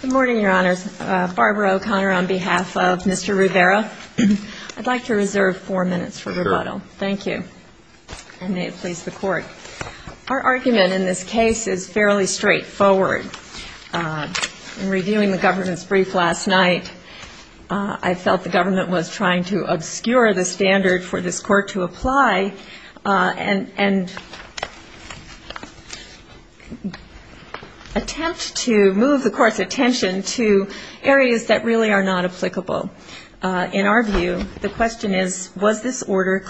Good morning, Your Honors. Barbara O'Connor on behalf of Mr. Rivera. I'd like to reserve four minutes for rebuttal. Thank you. And may it please the court. Our argument in this case is fairly straightforward. In reviewing the government's brief last night, I felt the government was trying to obscure the standard for this court to draw attention to areas that really are not applicable. In our view, the question is, was this order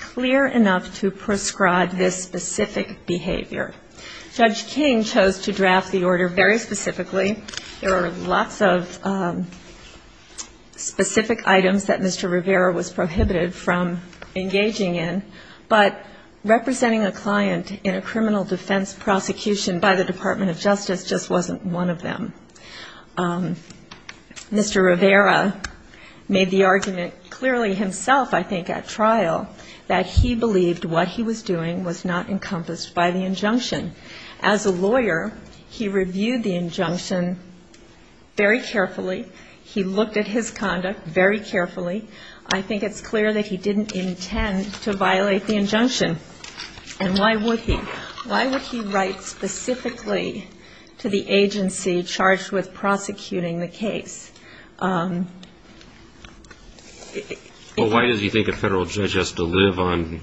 clear enough to prescribe this specific behavior? Judge King chose to draft the order very specifically. There are lots of specific items that Mr. Rivera was prohibited from engaging in, but representing a client in a Mr. Rivera made the argument clearly himself, I think, at trial, that he believed what he was doing was not encompassed by the injunction. As a lawyer, he reviewed the injunction very carefully. He looked at his conduct very carefully. I think it's clear that he didn't intend to violate the injunction. And why would he? Well, why does he think a federal judge has to live on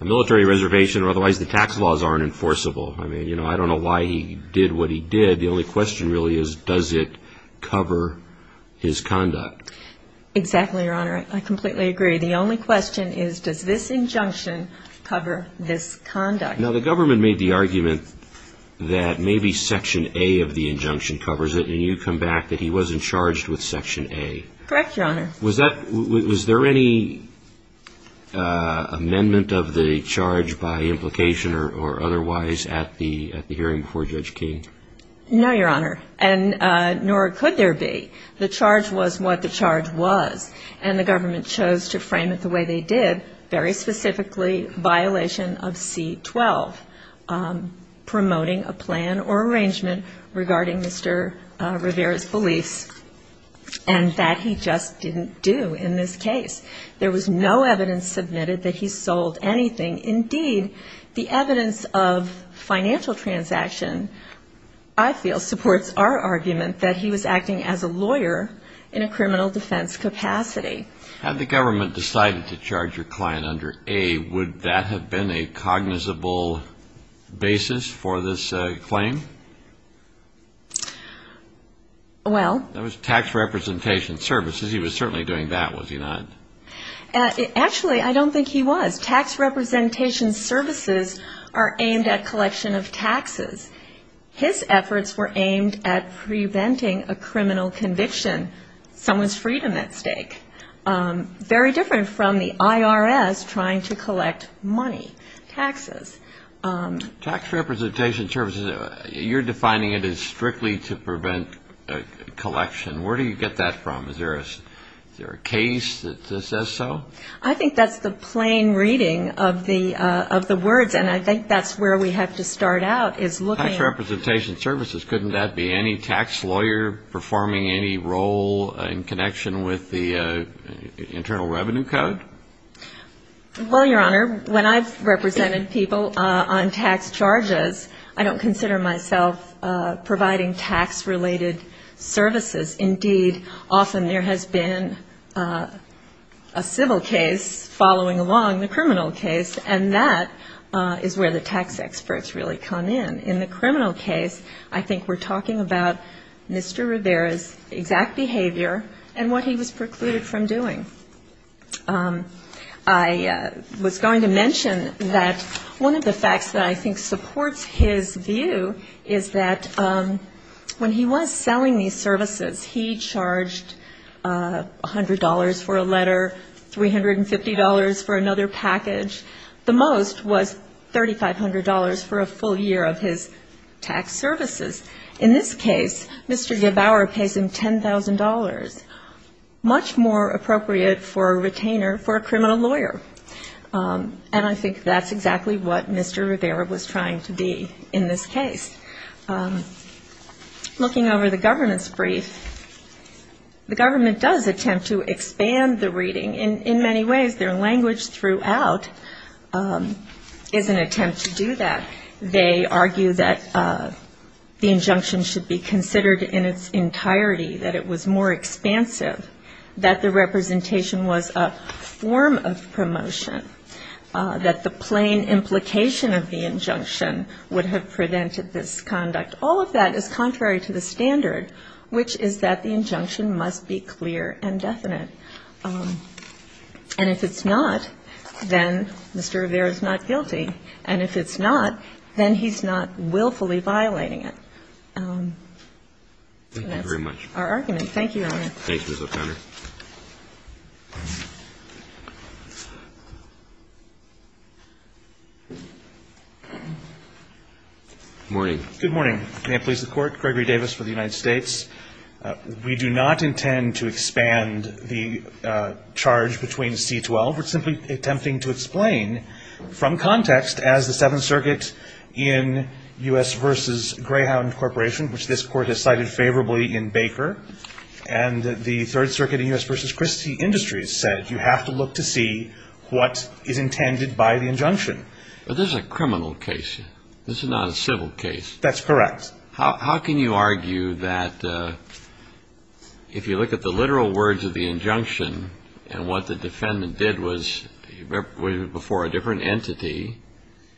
a military reservation? Otherwise, the tax laws aren't enforceable. I don't know why he did what he did. The only question really is, does it cover his conduct? Exactly, Your Honor. I completely agree. The only question is, does this injunction cover this conduct? Now, the government made the argument that maybe Section A of the injunction covers it, and you come back that he wasn't charged with Section A. Correct, Your Honor. Was there any amendment of the charge by implication or otherwise at the hearing before Judge King? No, Your Honor. And nor could there be. The charge was what the charge was. And the government chose to frame it the way they did, very specifically violation of C-12, promoting a plan or arrangement regarding Mr. Rivera's beliefs. And that he just didn't do in this case. There was no evidence submitted that he sold anything. Indeed, the evidence of financial transaction, I feel, supports our argument that he was acting as a lawyer in a criminal defense capacity. Had the government decided to charge your client under A, would that have been a cognizable basis for this claim? Well... That was tax representation services. He was certainly doing that, was he not? Actually, I don't think he was. Tax representation services are aimed at collection of taxes. His efforts were aimed at preventing a criminal conviction, someone's freedom at stake. Very different from the IRS trying to collect money, taxes. Tax representation services, you're defining it as strictly to prevent collection. Where do you get that from? Is there a case that says so? I think that's the plain reading of the words. And I think that's where we have to start out is looking... Tax representation services, couldn't that be any tax lawyer performing any role in connection with the Internal Revenue Code? Well, Your Honor, when I've represented people on tax charges, I don't consider myself providing tax-related services. Indeed, often there has been a civil case following along the criminal case, and that is where the tax experts really come in. In the criminal case, I think we're talking about Mr. Rivera's exact behavior and what he was precluded from doing. I was going to mention that one of the facts that I think supports his view is that when he was selling these services, he charged $100 for a letter, $350 for another package. The most was $3,500 for a full year of his tax services. In this case, Mr. Gebauer pays him $10,000. Much more appropriate for a retainer for a criminal lawyer. And I think that's exactly what Mr. Rivera was trying to be in this case. Looking over the government's brief, the government does attempt to expand the reading. In many ways, their language throughout is an attempt to do that. They argue that the injunction should be considered in its entirety, that it was more expansive, that the representation was a form of promotion, that the plain implication of the injunction would have prevented this conduct. All of that is contrary to the standard, which is that the injunction must be clear and definite. And if it's not, then Mr. Rivera is not guilty. And if it's not, then he's not willfully violating it. That's our argument. Thank you, Your Honor. Thank you, Ms. O'Connor. Good morning. Good morning. May it please the Court. Gregory Davis for the United States. We do not intend to expand the charge between C-12. We're simply attempting to explain from context as the Seventh Circuit in U.S. v. Greyhound Corporation, which this Court has cited favorably in Baker, and the Third Circuit in U.S. v. Christie Industries said you have to look to see what is intended by the injunction. But this is a criminal case. This is not a civil case. That's correct. How can you argue that if you look at the literal words of the injunction and what the defendant did was before a different entity,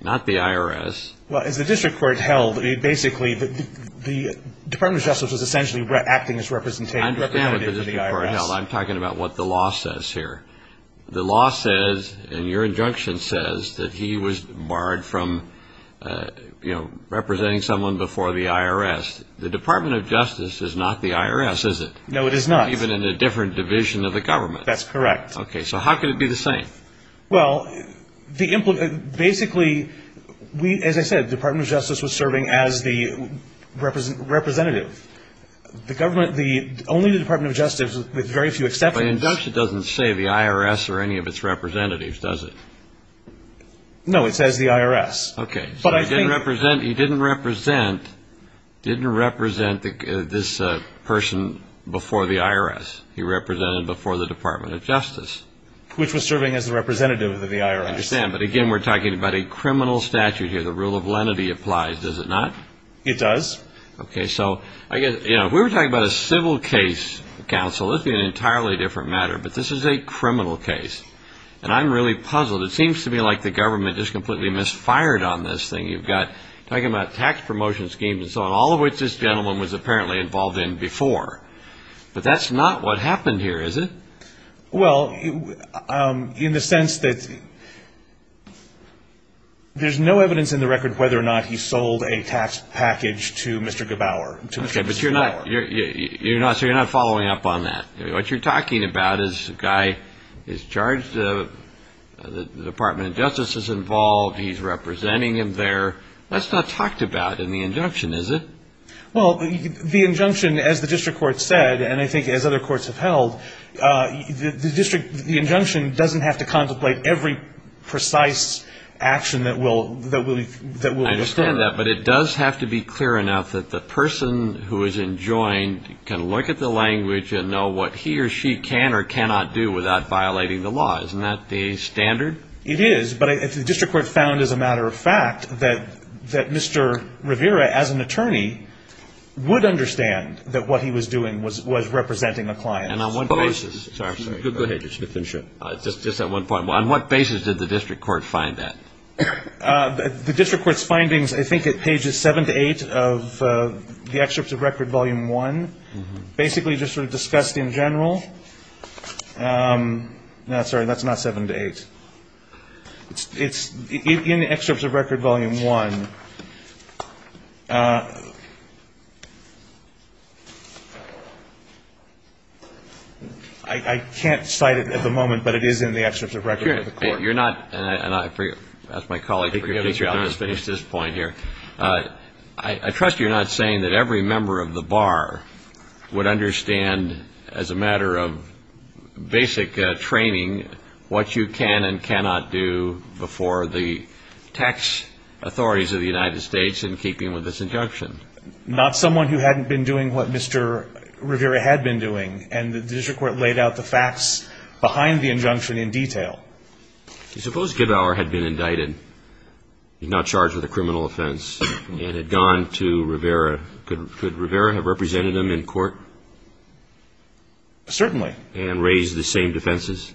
not the IRS? Well, as the district court held, basically the Department of Justice was essentially acting as representative of the IRS. I'm talking about what the law says here. The law says, and your injunction says, that he was barred from representing someone before the IRS. The Department of Justice is not the IRS, is it? No, it is not. It's not even in a different division of the government. That's correct. Okay, so how can it be the same? Well, basically, as I said, the Department of Justice was serving as the representative. Only the Department of Justice, with very few exceptions... But the injunction doesn't say the IRS or any of its representatives, does it? No, it says the IRS. Okay, so he didn't represent this person before the IRS. He represented before the Department of Justice. Which was serving as the representative of the IRS. I understand, but again, we're talking about a criminal statute here. The rule of lenity applies, does it not? It does. Okay, so if we were talking about a civil case, counsel, this would be an entirely different matter. But this is a criminal case. And I'm really puzzled. It seems to me like the government just completely misfired on this thing. You've got, talking about tax promotion schemes and so on, all of which this gentleman was apparently involved in before. But that's not what happened here, is it? Well, in the sense that... There's no evidence in the record whether or not he sold a tax package to Mr. Gebauer. Okay, but you're not following up on that. What you're talking about is a guy is charged, the Department of Justice is involved, he's representing him there. That's not talked about in the injunction, is it? Well, the injunction, as the district court said, and I think as other courts have held, the injunction doesn't have to contemplate every precise action that will occur. I understand that, but it does have to be clear enough that the person who is enjoined can look at the language and know what he or she can or cannot do without violating the law. Isn't that the standard? It is, but the district court found, as a matter of fact, that Mr. Rivera, as an attorney, would understand that what he was doing was representing a client. And on what basis... On what basis did the district court find that? The district court's findings, I think at pages 7 to 8 of the excerpts of Record Volume 1, basically just sort of discussed in general. No, sorry, that's not 7 to 8. It's in the excerpts of Record Volume 1. I can't cite it at the moment, but it is in the excerpts of Record Volume 1. You're not, and I ask my colleague to finish this point here. I trust you're not saying that every member of the bar would understand, as a matter of basic training, what you can and cannot do before the tax authorities of the United States in keeping with this injunction. Not someone who hadn't been doing what Mr. Rivera had been doing, and the district court laid out the facts behind the injunction in detail. Suppose Gibauer had been indicted. He's now charged with a criminal offense, and had gone to Rivera. Could Rivera have represented him in court? Certainly. And raised the same defenses?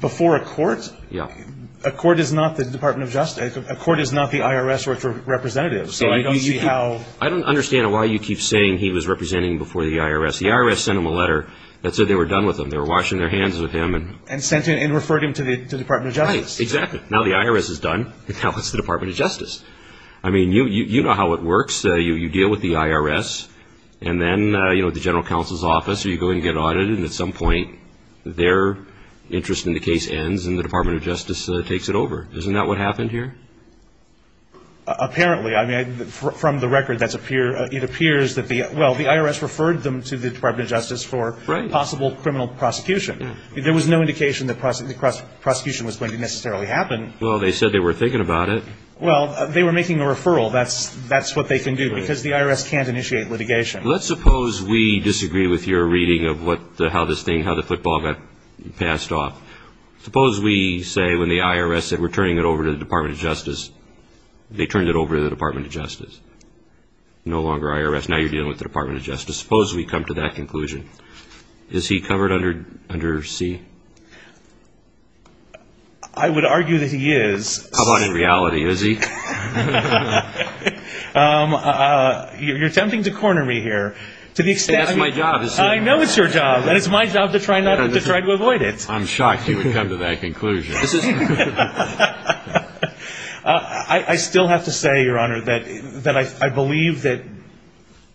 Before a court? Yeah. A court is not the IRS representative, so I don't see how... I don't understand why you keep saying he was representing before the IRS. The IRS sent him a letter that said they were done with him. They were washing their hands of him. And sent him, and referred him to the Department of Justice. Right, exactly. Now the IRS is done, and now it's the Department of Justice. I mean, you know how it works. You deal with the IRS, and then the general counsel's office, or you go and get audited, and at some point their interest in the case ends and the Department of Justice takes it over. Isn't that what happened here? Apparently. From the record, it appears that the IRS referred them to the Department of Justice for possible criminal prosecution. There was no indication that prosecution was going to necessarily happen. Well, they said they were thinking about it. Well, they were making a referral. That's what they can do, because the IRS can't initiate litigation. Let's suppose we disagree with your reading of how this thing, how the football got passed off. Suppose we say when the IRS said we're turning it over to the Department of Justice, they turned it over to the Department of Justice. No longer IRS. Now you're dealing with the Department of Justice. Suppose we come to that conclusion. Is he covered under C? I would argue that he is. How about in reality, is he? You're attempting to corner me here. That's my job. I know it's your job, and it's my job to try to avoid it. I'm shocked you would come to that conclusion. I still have to say, Your Honor, that I believe that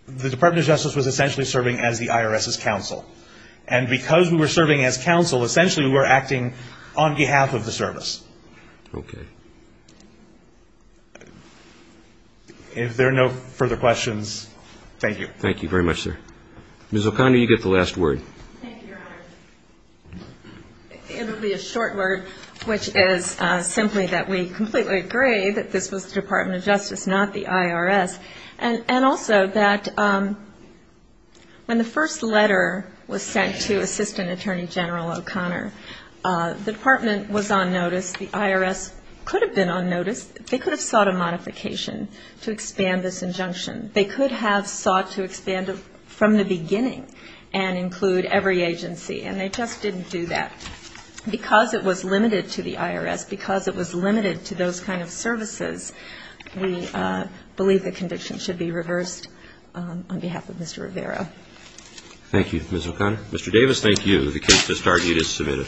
the Department of Justice was essentially serving as the IRS's counsel. And because we were serving as counsel, essentially we were acting on behalf of the service. Okay. If there are no further questions, thank you. Thank you very much, sir. Ms. O'Connor, you get the last word. Thank you, Your Honor. It will be a short word, which is simply that we completely agree that this was the Department of Justice, not the IRS. And also that when the first letter was sent to Assistant Attorney General O'Connor, the Department was on notice. The IRS could have been on notice. They could have sought a modification to expand this injunction. They could have sought to expand it from the beginning and include every agency. And they just didn't do that. Because it was limited to the IRS, because it was limited to those kind of services, we believe the conviction should be reversed on behalf of Mr. Rivera. Thank you, Ms. O'Connor. Mr. Davis, thank you. The case to start is submitted.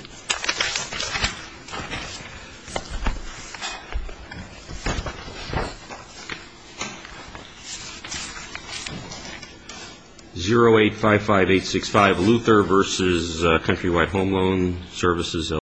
0855865, Luther v. Countrywide Home Loan Services LLC.